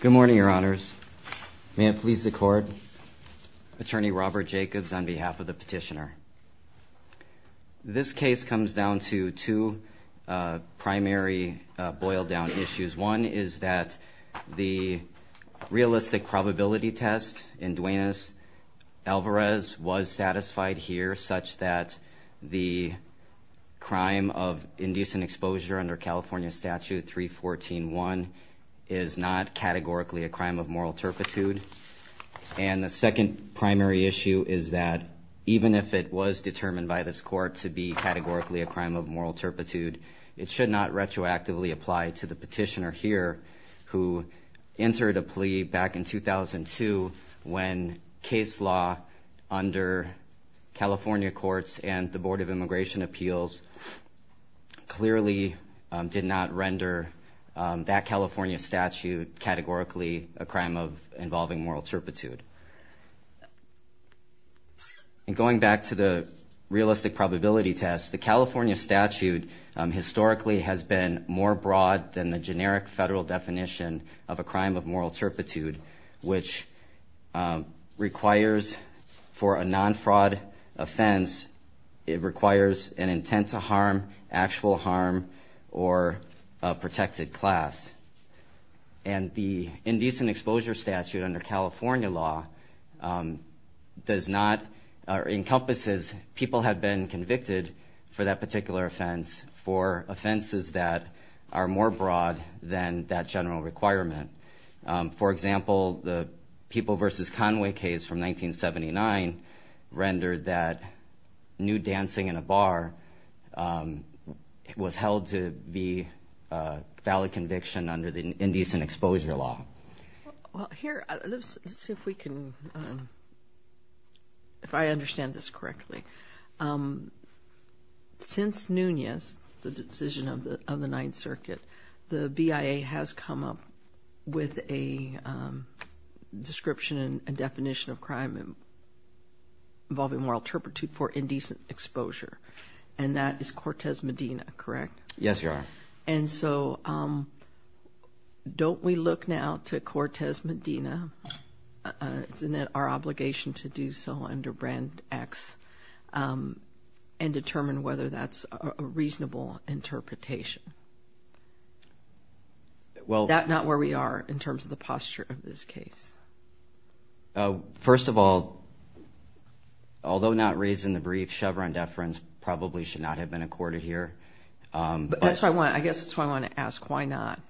Good morning your honors. May it please the court. Attorney Robert Jacobs on behalf of the petitioner. This case comes down to two primary boil-down issues. One is that the realistic probability test in Duenas Alvarez was satisfied here such that the crime of indecent exposure under California statute 314-1 is not categorically a crime of moral turpitude. And the second primary issue is that even if it was determined by this court to be categorically a crime of moral turpitude, it should not retroactively apply to the petitioner here who entered a plea back in 2002 when case law under California courts and the Board of Immigration Appeals clearly did not render that California statute categorically a crime of involving moral turpitude. And going back to the realistic probability test, the California statute historically has been more broad than the generic federal definition of a crime of moral turpitude which requires for a non-fraud offense, it requires an intent to harm, actual harm, or a protected class. And the indecent exposure statute under California law does not, or encompasses, people have been convicted for that particular offense for offenses that are more broad than that general requirement. For example, the People v. Conway case from 1979 rendered that nude dancing in a bar was held to be a valid conviction under the indecent exposure law. Well here, let's see if we can, if I understand this correctly. Since Nunez, the decision of the Ninth Circuit, the BIA has come up with a description and definition of and that is Cortez Medina, correct? Yes you are. And so don't we look now to Cortez Medina, isn't it our obligation to do so under brand X, and determine whether that's a reasonable interpretation. Well that's not where we are in terms of the posture of this case. First of all, although not raising the brief, Chevron deference probably should not have been accorded here. I guess that's why I want to ask, why not?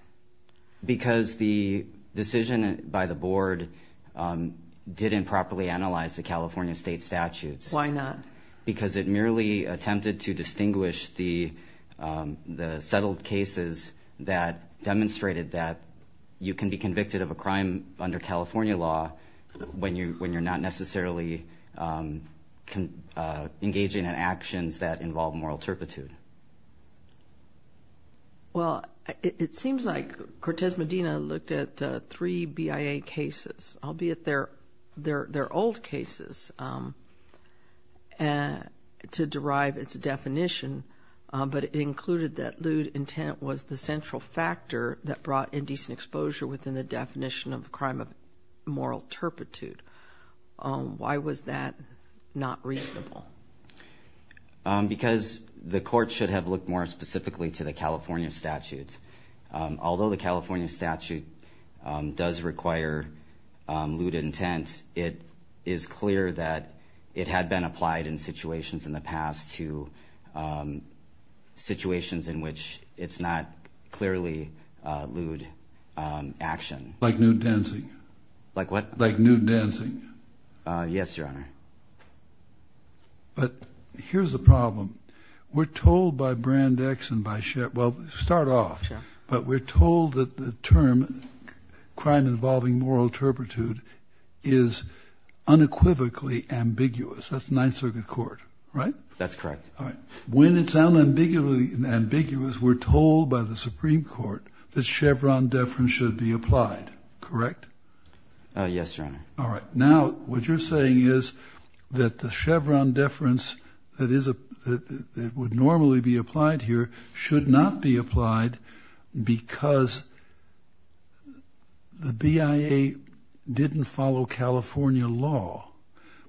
Because the decision by the board didn't properly analyze the California state statutes. Why not? Because it merely attempted to distinguish the settled cases that demonstrated that you can be convicted of a crime under California law when you're not necessarily engaging in actions that involve moral turpitude. Well, it seems like Cortez Medina looked at three BIA cases, albeit they're old cases to derive its definition, but it included that lewd intent was the central factor that brought indecent exposure within the definition of the crime of moral turpitude. Why was that not reasonable? Because the court should have looked more specifically to the California statutes. Although the California statute does require lewd intent, it is clear that it had been applied in situations in the past to situations in which it's not clearly lewd action. Like nude dancing? Yes, Your Honor. But here's the problem. We're told by Brand X and by Chevron, well start off, but we're told that the term crime involving moral turpitude is unequivocally ambiguous. That's Ninth Circuit Court, right? That's correct. When it's unambiguously ambiguous, we're told by the Supreme Court that Chevron deference should be applied, correct? Yes, Your Honor. All right. Now what you're saying is that the Chevron deference that would normally be applied here should not be applied because the BIA didn't follow California law.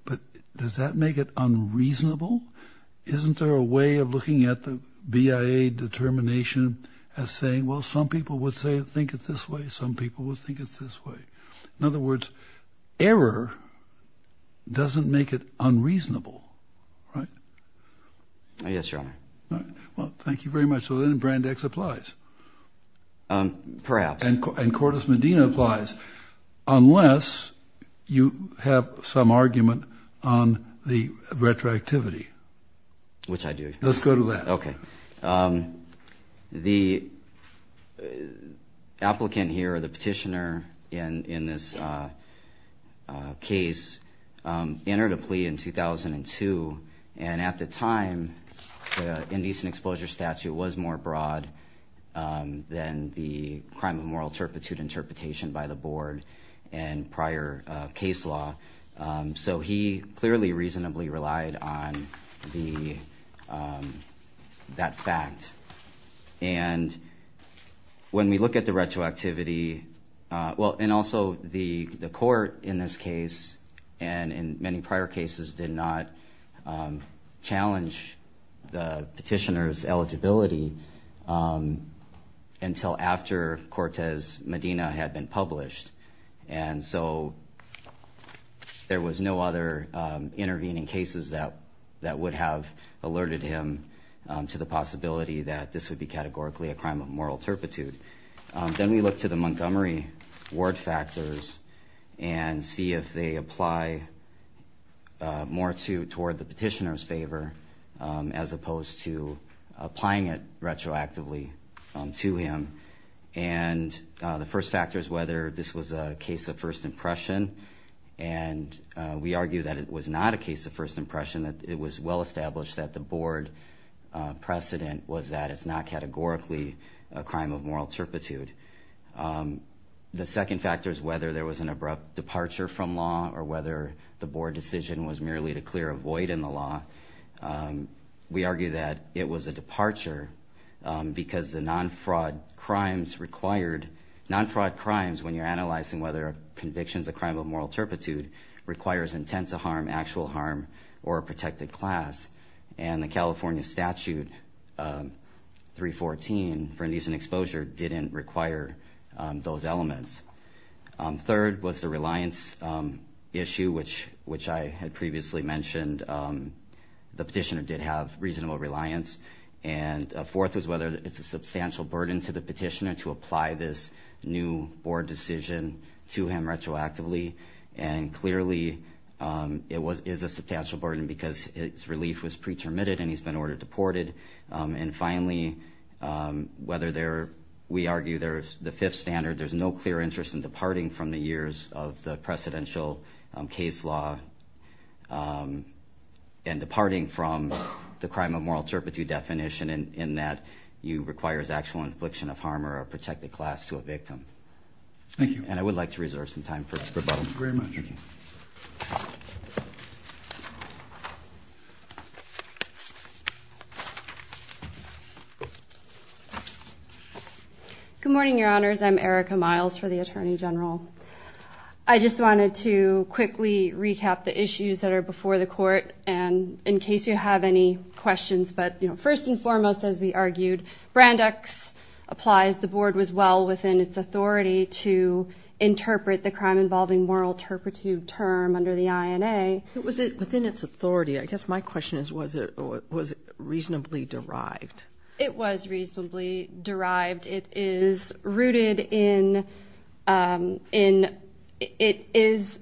But does that make it unreasonable? Isn't there a way of BIA determination as saying, well some people would say think it this way, some people would think it's this way. In other words, error doesn't make it unreasonable, right? Yes, Your Honor. Well, thank you very much. So then Brand X applies? Perhaps. And Cordes Medina applies, unless you have some argument on the retroactivity. Which I do. Let's go to that. Okay. The applicant here, the petitioner in this case, entered a plea in 2002 and at the time the indecent exposure statute was more broad than the crime of moral turpitude interpretation by the board and prior case law. So he clearly reasonably relied on the that fact. And when we look at the retroactivity, well and also the the court in this case and in many prior cases did not challenge the petitioner's and published. And so there was no other intervening cases that that would have alerted him to the possibility that this would be categorically a crime of moral turpitude. Then we look to the Montgomery Ward factors and see if they apply more to toward the petitioner's favor as opposed to applying it whether this was a case of first impression. And we argue that it was not a case of first impression, that it was well established that the board precedent was that it's not categorically a crime of moral turpitude. The second factor is whether there was an abrupt departure from law or whether the board decision was merely to clear a void in the law. We argue that it was a when you're analyzing whether convictions a crime of moral turpitude requires intent to harm, actual harm, or a protected class. And the California statute 314 for indecent exposure didn't require those elements. Third was the reliance issue which which I had previously mentioned. The petitioner did have reasonable reliance. And fourth was whether it's a substantial burden to the decision to him retroactively. And clearly it was is a substantial burden because its relief was pretermitted and he's been ordered deported. And finally whether there we argue there's the fifth standard there's no clear interest in departing from the years of the precedential case law and departing from the crime of moral turpitude definition in that you requires actual infliction of harm or a protected class to a victim. Thank you. And I would like to reserve some time for questions. Good morning, Your Honors. I'm Erica Miles for the Attorney General. I just wanted to quickly recap the issues that are before the court and in case you have any questions. But you know first and implies the board was well within its authority to interpret the crime involving moral turpitude term under the INA. Was it within its authority? I guess my question is was it was it reasonably derived? It was reasonably derived. It is rooted in in it is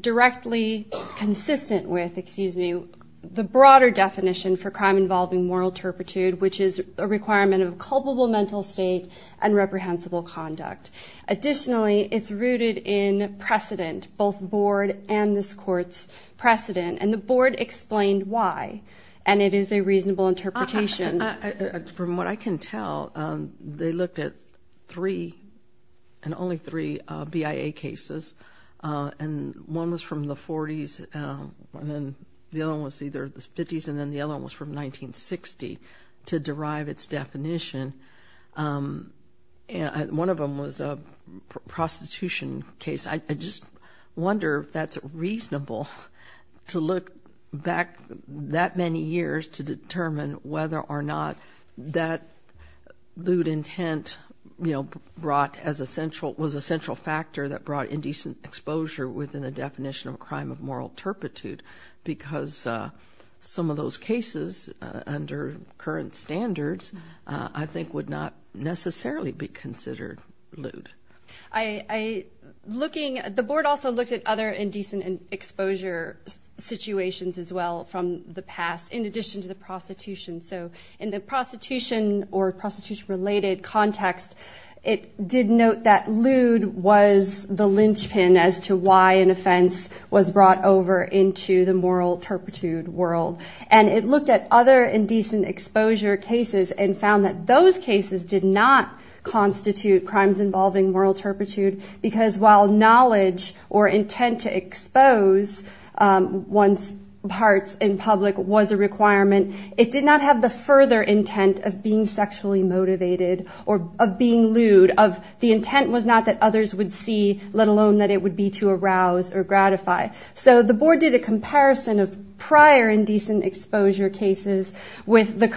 directly consistent with excuse me the broader definition for crime involving moral turpitude which is a requirement of culpable mental state and reprehensible conduct. Additionally it's rooted in precedent both board and this court's precedent and the board explained why and it is a reasonable interpretation. From what I can tell they looked at three and only three BIA cases and one was from the 40s and then the other one was either the 50s and then the other one was from 1960 to derive its definition. And one of them was a prostitution case. I just wonder if that's reasonable to look back that many years to determine whether or not that lewd intent you know brought as a central was a central factor that brought indecent exposure within the cases under current standards I think would not necessarily be considered lewd. I looking at the board also looked at other indecent exposure situations as well from the past in addition to the prostitution. So in the prostitution or prostitution related context it did note that lewd was the linchpin as to why an moral turpitude world and it looked at other indecent exposure cases and found that those cases did not constitute crimes involving moral turpitude because while knowledge or intent to expose one's parts in public was a requirement it did not have the further intent of being sexually motivated or of being lewd of the intent was not that others would see let alone that it would be to arouse or gratify. So the board did a comparison of prior indecent exposure cases with the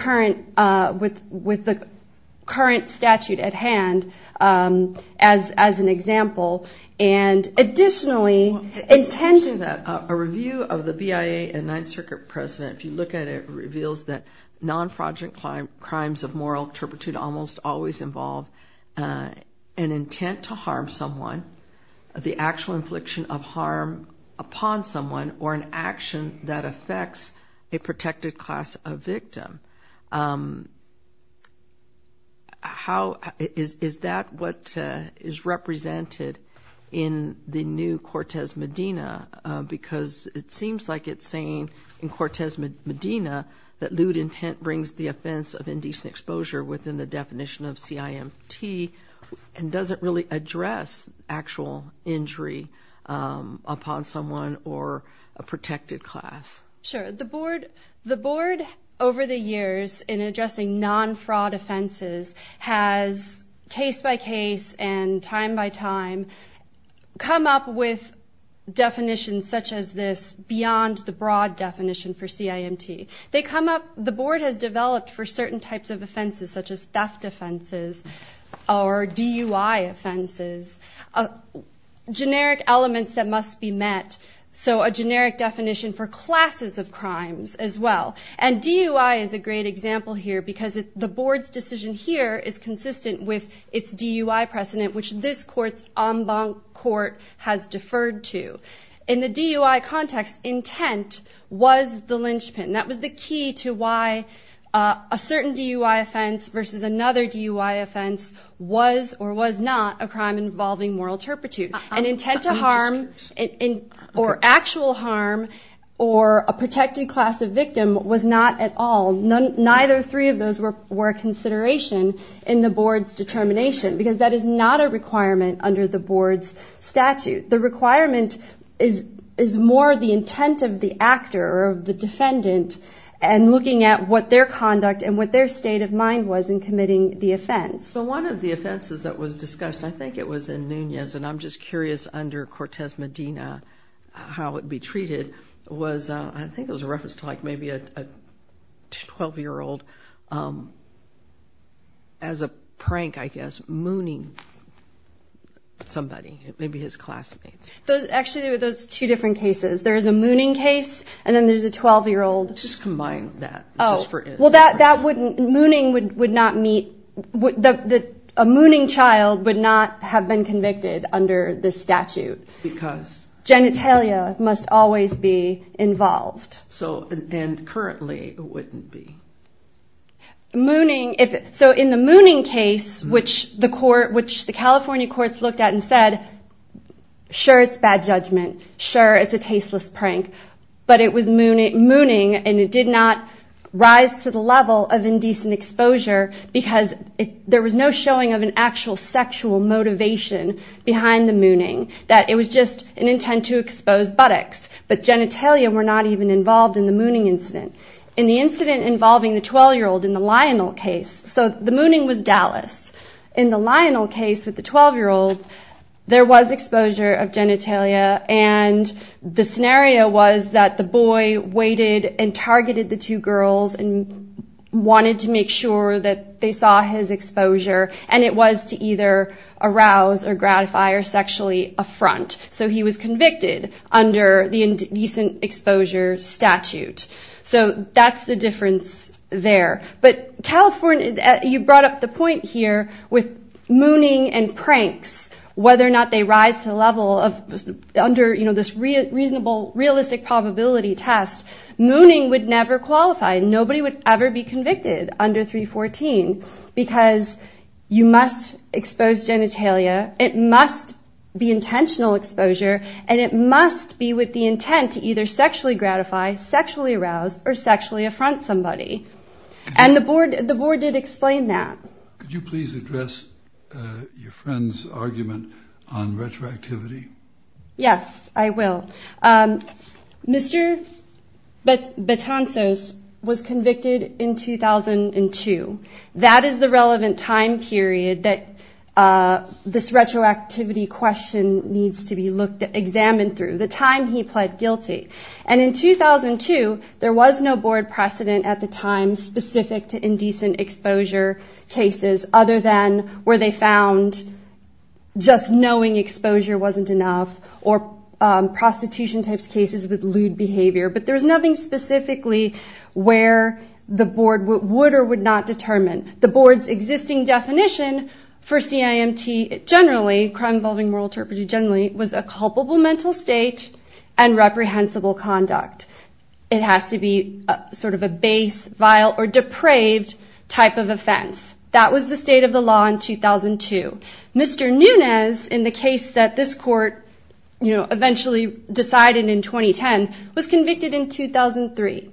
current statute at hand as an example. And additionally, a review of the BIA and Ninth Circuit precedent if you look at it reveals that non-fraudulent crimes of moral turpitude almost always involve an intent to harm someone, the actual infliction of harm upon someone or an action that affects a protected class of victim. Is that what is represented in the new Cortez Medina? Because it seems like it's saying in Cortez Medina that lewd intent brings the offense of indecent exposure within the definition of CIMT and doesn't really address actual injury upon someone or a protected class. Sure. The board over the years in addressing non-fraud offenses has case by case and time by time come up with definitions such as this beyond the broad definition for CIMT. The board has developed for certain types of offenses such as theft offenses or DUI offenses, generic elements that must be met. So a generic definition for classes of crimes as well. And DUI is a great example here because the board's decision here is consistent with its DUI precedent which this court's en banc court has deferred to. In the DUI context, intent was the linchpin. That was the key to why a certain DUI offense versus another DUI offense was or was not a crime involving moral turpitude. An intent to harm or actual harm or a protected class of victim was not at all, neither three of those were a consideration in the board's determination because that is not a requirement under the board's statute. The requirement is more the intent of the actor or the defendant and looking at what their conduct and what their state of mind was in committing the offense. So one of the offenses that was discussed, I think it was in Nunez and I'm just curious under Cortez Medina how it would be treated, was I think it was a reference to like maybe a 12-year-old, as a prank I guess, mooning somebody, maybe his classmates. Actually, those are two different cases. There is a mooning case and then there's a 12-year-old. Just combine that. Mooning would not meet, a mooning child would not have been convicted under this statute. Genitalia must always be involved. And currently it wouldn't be. So in the mooning case which the California courts looked at and said, sure, it's bad judgment. Sure, it's a tasteless prank. But it was mooning and it did not rise to the level of indecent exposure because there was no showing of an actual sexual motivation behind the mooning. That it was just an intent to expose buttocks. But genitalia were not even involved in the mooning incident. In the incident involving the 12-year-old in the Lionel case, so the mooning was Dallas. In the Lionel case with the 12-year-old there was exposure of genitalia and the scenario was that the boy waited and targeted the two girls and wanted to make sure that they saw his exposure and it was to either arouse or gratify or sexually affront. So he was convicted under the indecent exposure statute. So that's the difference there. But California, you brought up the point here with mooning and pranks, whether or not they rise to the level of under this reasonable realistic probability test, mooning would never qualify. Nobody would ever be convicted under 314 because you must expose genitalia, it must be intentional exposure, and it must be with the intent to either sexually gratify, sexually arouse, or sexually affront somebody. And the board did explain that. Could you please address your friend's argument on retroactivity? Yes, I will. Mr. Betancos was convicted in 2002. That is the relevant time period that this retroactivity question needs to be examined through, the time he pled guilty. And in 2002 there was no board precedent at the time specific to indecent exposure cases other than where they found just knowing exposure wasn't enough or prostitution type cases with lewd behavior, but there was nothing specifically where the board would or would not determine. The board's existing definition for CIMT generally, crime involving moral turpitude generally, was a culpable mental state and reprehensible conduct. It has to be sort of a base, vile, or depraved type of offense. That was the state of the law in 2002. Mr. Nunez, in the case that this court eventually decided in 2010, was convicted in 2003.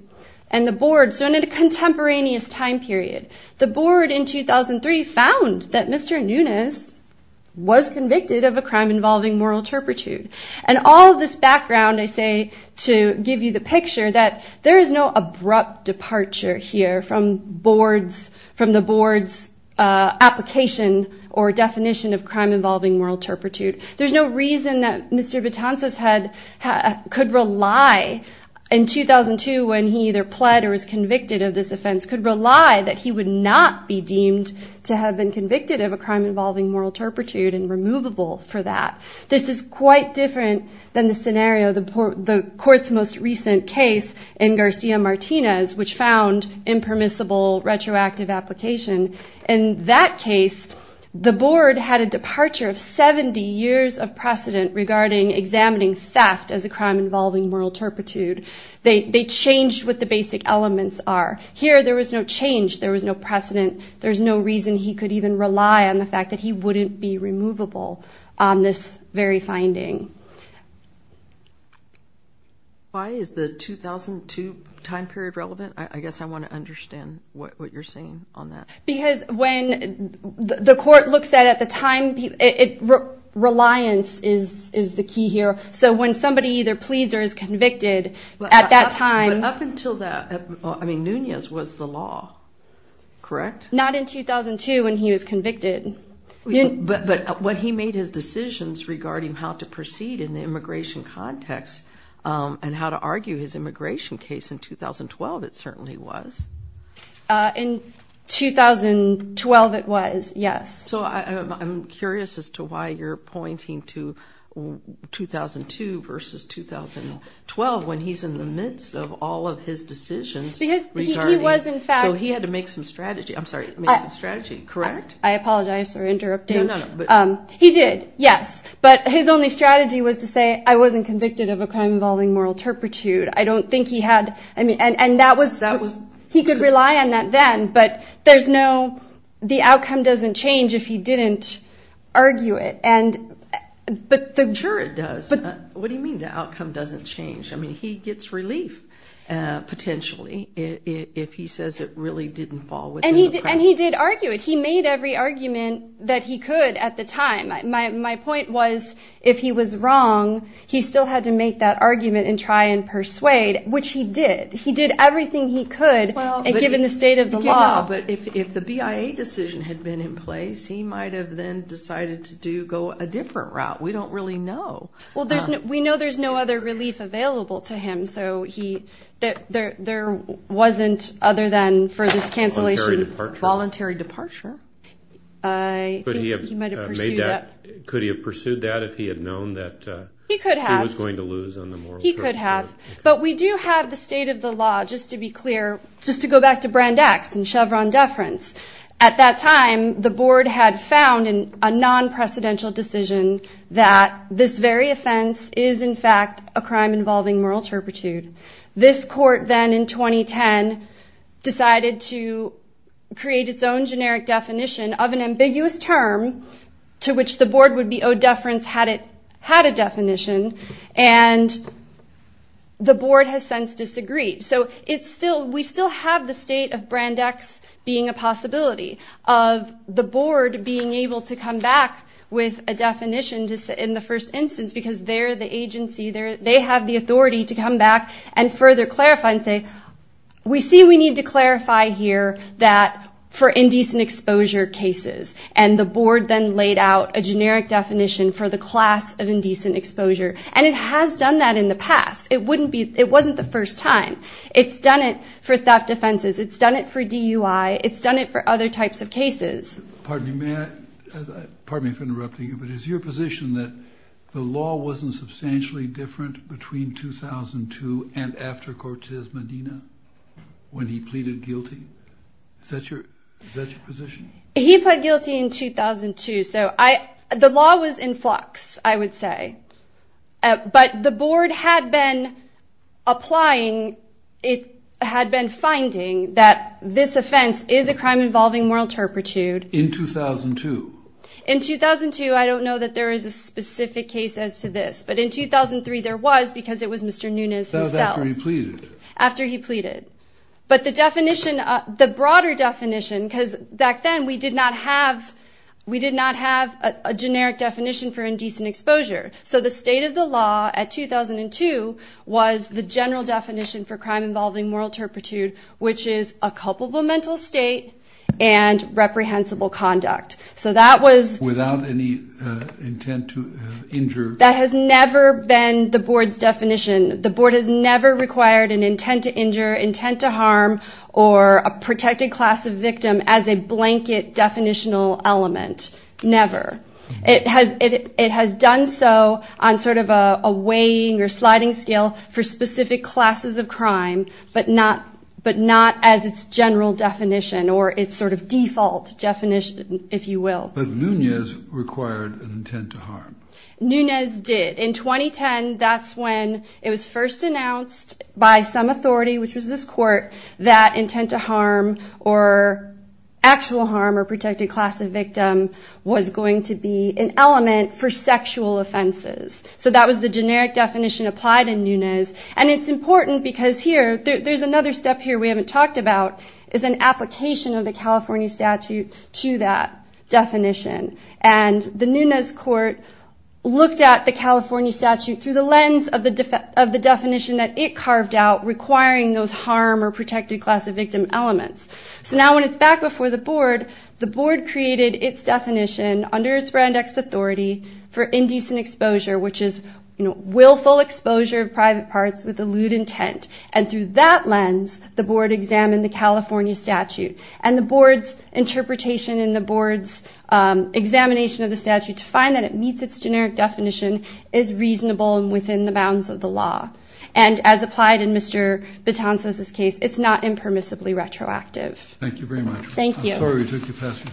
And the board in a contemporaneous time period, the board in 2003 found that Mr. Nunez was convicted of a crime involving moral turpitude. And all of this background I say to give you the picture that there is no abrupt departure here from the board's application or definition of crime involving moral turpitude. There's no reason that Mr. Betancos could rely in 2002 when he either pled or was convicted of this offense, could rely that he would not be deemed to have been convicted of a crime involving moral turpitude and removable for that. This is quite different than the scenario, the court's most recent case in Garcia Martinez, which found impermissible retroactive application. In that case, the board had a departure of 70 years of precedent regarding examining theft as a crime involving moral turpitude. Here, there was no change. There was no precedent. There's no reason he could even rely on the fact that he wouldn't be removable on this very finding. Why is the 2002 time period relevant? I guess I want to understand what you're saying on that. Because when the court looks at the time, reliance is the key here. So when somebody either pleads or is convicted at that time... But up until that, I mean, Nunez was the law, correct? Not in 2002 when he was convicted. But when he made his decisions regarding how to proceed in the immigration context and how to argue his immigration case in 2012, it certainly was. In 2012 it was, yes. So I'm curious as to why you're pointing to 2002 versus 2012 when he's in the midst of all of his decisions regarding... So he had to make some strategy, correct? I apologize for interrupting. He did, yes. But his only strategy was to say, I wasn't convicted of a crime involving moral turpitude. I don't think he had... He could rely on that then, but there's no... The outcome doesn't change if he didn't argue it. Sure it does. What do you mean the outcome doesn't change? I mean, he gets relief potentially if he says it really didn't fall within the... And he did argue it. He made every argument that he could at the time. My point was, if he was wrong, he still had to make that argument and try and persuade, which he did. He did everything he could, given the state of the law. But if the BIA decision had been in place, he might have then decided to go a different route. We don't really know. Well, we know there's no other relief available to him, so there wasn't other than for this cancellation... Voluntary departure. Could he have pursued that if he had known that he was going to lose on the moral turpitude? He could have. But we do have the state of the law, just to be clear, just to go back to Brand X and Chevron deference. At that time, the board had found in a non-precedential decision that this very offense is, in fact, a crime involving moral turpitude. This court then, in 2010, decided to create its own generic definition of an ambiguous term to which the board would be owed deference had it had a definition. And the board has since had the possibility of the board being able to come back with a definition in the first instance, because they're the agency, they have the authority to come back and further clarify and say, we see we need to clarify here that for indecent exposure cases. And the board then laid out a generic definition for the class of indecent exposure. And it has done that in the past. It wasn't the first time. It's done it for theft offenses. It's done it for DUI. It's done it for other types of cases. Pardon me for interrupting you, but is your position that the law wasn't substantially different between 2002 and after Cortez Medina when he pleaded guilty? Is that your position? He pled guilty in 2002. So the law was in flux, I would say. But the board had been applying, it had been finding that this offense is a crime involving moral turpitude. In 2002. In 2002, I don't know that there is a specific case as to this, but in 2003 there was because it was Mr. Nunes himself. That was after he pleaded. After he pleaded. But the definition, the broader definition, because back then we did not have a generic definition for indecent exposure. So the state of the law at 2002 was the general definition for crime involving moral turpitude, which is a culpable mental state and reprehensible conduct. Without any intent to injure. That has never been the board's definition. The board has never required an intent to injure, intent to harm, or a protected class of victim as a blanket definitional element. Never. It has done so on sort of a weighing or sliding scale for specific classes of crime, but not as its general definition or its sort of default definition, if you will. But Nunes required an intent to harm. Nunes did. In 2010, that's when it was first announced by some authority, which was this court, that intent to harm or actual harm or protected class of victim was going to be an element for sexual offenses. So that was the generic definition applied in Nunes. And it's important because here, there's another step here we haven't talked about, is an application of the California statute to that definition. And the Nunes court looked at the California statute through the lens of the definition that it carved out, requiring those harm or protected class of victim elements. So now when it's back before the board, the board created its definition under its brand X authority for indecent exposure, which is willful exposure of private parts with a lewd intent. And through that lens, the board examined the California statute and the board's interpretation and the board's examination of the statute to find that it meets its generic definition is reasonable and within the bounds of the law. And as applied in Mr. Betancourt's case, it's not impermissibly retroactive. Thank you very much. Thank you. First,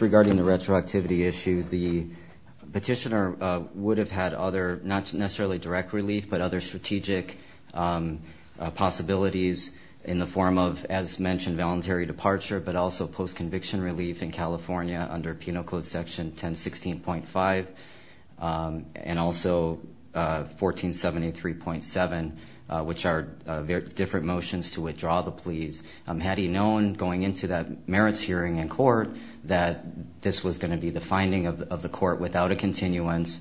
regarding the retroactivity issue, the petitioner would have had other, not necessarily direct relief, but other strategic possibilities in the form of, as mentioned, voluntary departure, but also post-conviction relief in California under Penal Code Section 1016.5 and also 1473.7, which are different motions to withdraw the pleas. Had he known going into that merits hearing in court that this was going to be the finding of the court without a continuance,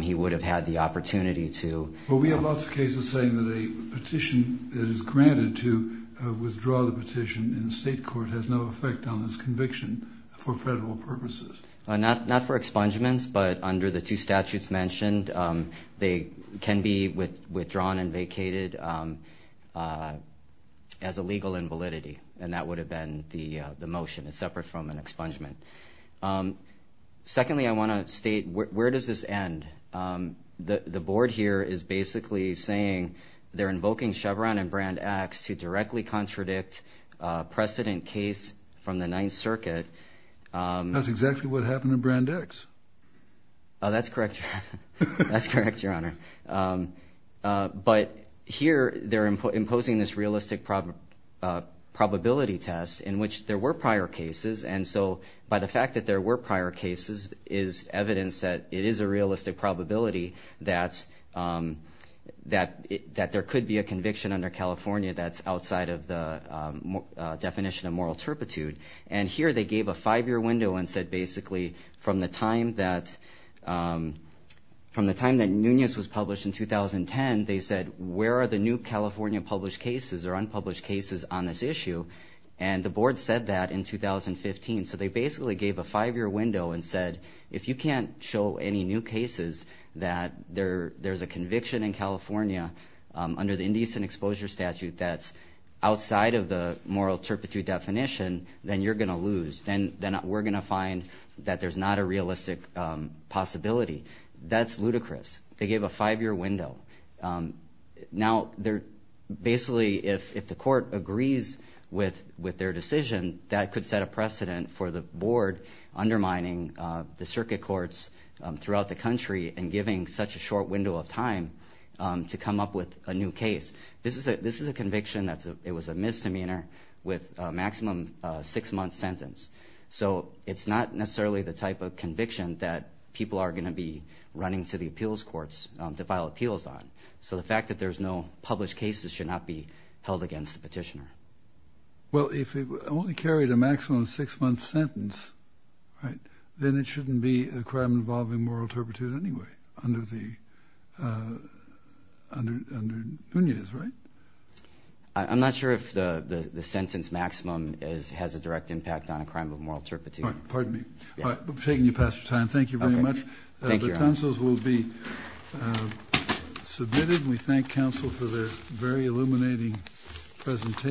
he would have had the opportunity to... Well, we have lots of cases saying that a petition that is granted to withdraw the petition in the state court has no effect on this conviction for federal purposes. Not for expungements, but under the two statutes mentioned, they can be withdrawn and vacated as a legal invalidity. And that would have been the motion. It's separate from an expungement. Secondly, I want to state, where does this end? The board here is basically saying they're invoking Chevron and Brand X to directly contradict precedent case from the Ninth Circuit. That's exactly what happened in Brand X. That's correct, Your Honor. But here they're imposing this realistic probability test in which there were prior cases. And so by the fact that there were prior cases is evidence that it is a realistic probability that there could be a conviction under California that's outside of the definition of moral turpitude. And here they gave a five-year window and said, basically, from the time that Nunez was brought in, which was published in 2010, they said, where are the new California published cases or unpublished cases on this issue? And the board said that in 2015. So they basically gave a five-year window and said, if you can't show any new cases that there's a conviction in California under the indecent exposure statute that's outside of the moral turpitude definition, then you're going to lose. Then we're going to find that there's not a realistic possibility. That's ludicrous. They gave a five-year window. Now, basically, if the court agrees with their decision, that could set a precedent for the board undermining the circuit courts throughout the country and giving such a short window of time to come up with a new case. This is a conviction that it was a misdemeanor with a maximum six-month sentence. So it's not necessarily the type of conviction that people are going to be running to the appeals courts to file appeals on. So the fact that there's no published cases should not be held against the petitioner. Well, if it only carried a maximum six-month sentence, then it shouldn't be a crime involving moral turpitude anyway under Nunez, right? I'm not sure if the sentence maximum has a direct impact on a crime of moral turpitude. Pardon me. I'm taking you past your time. Thank you very much.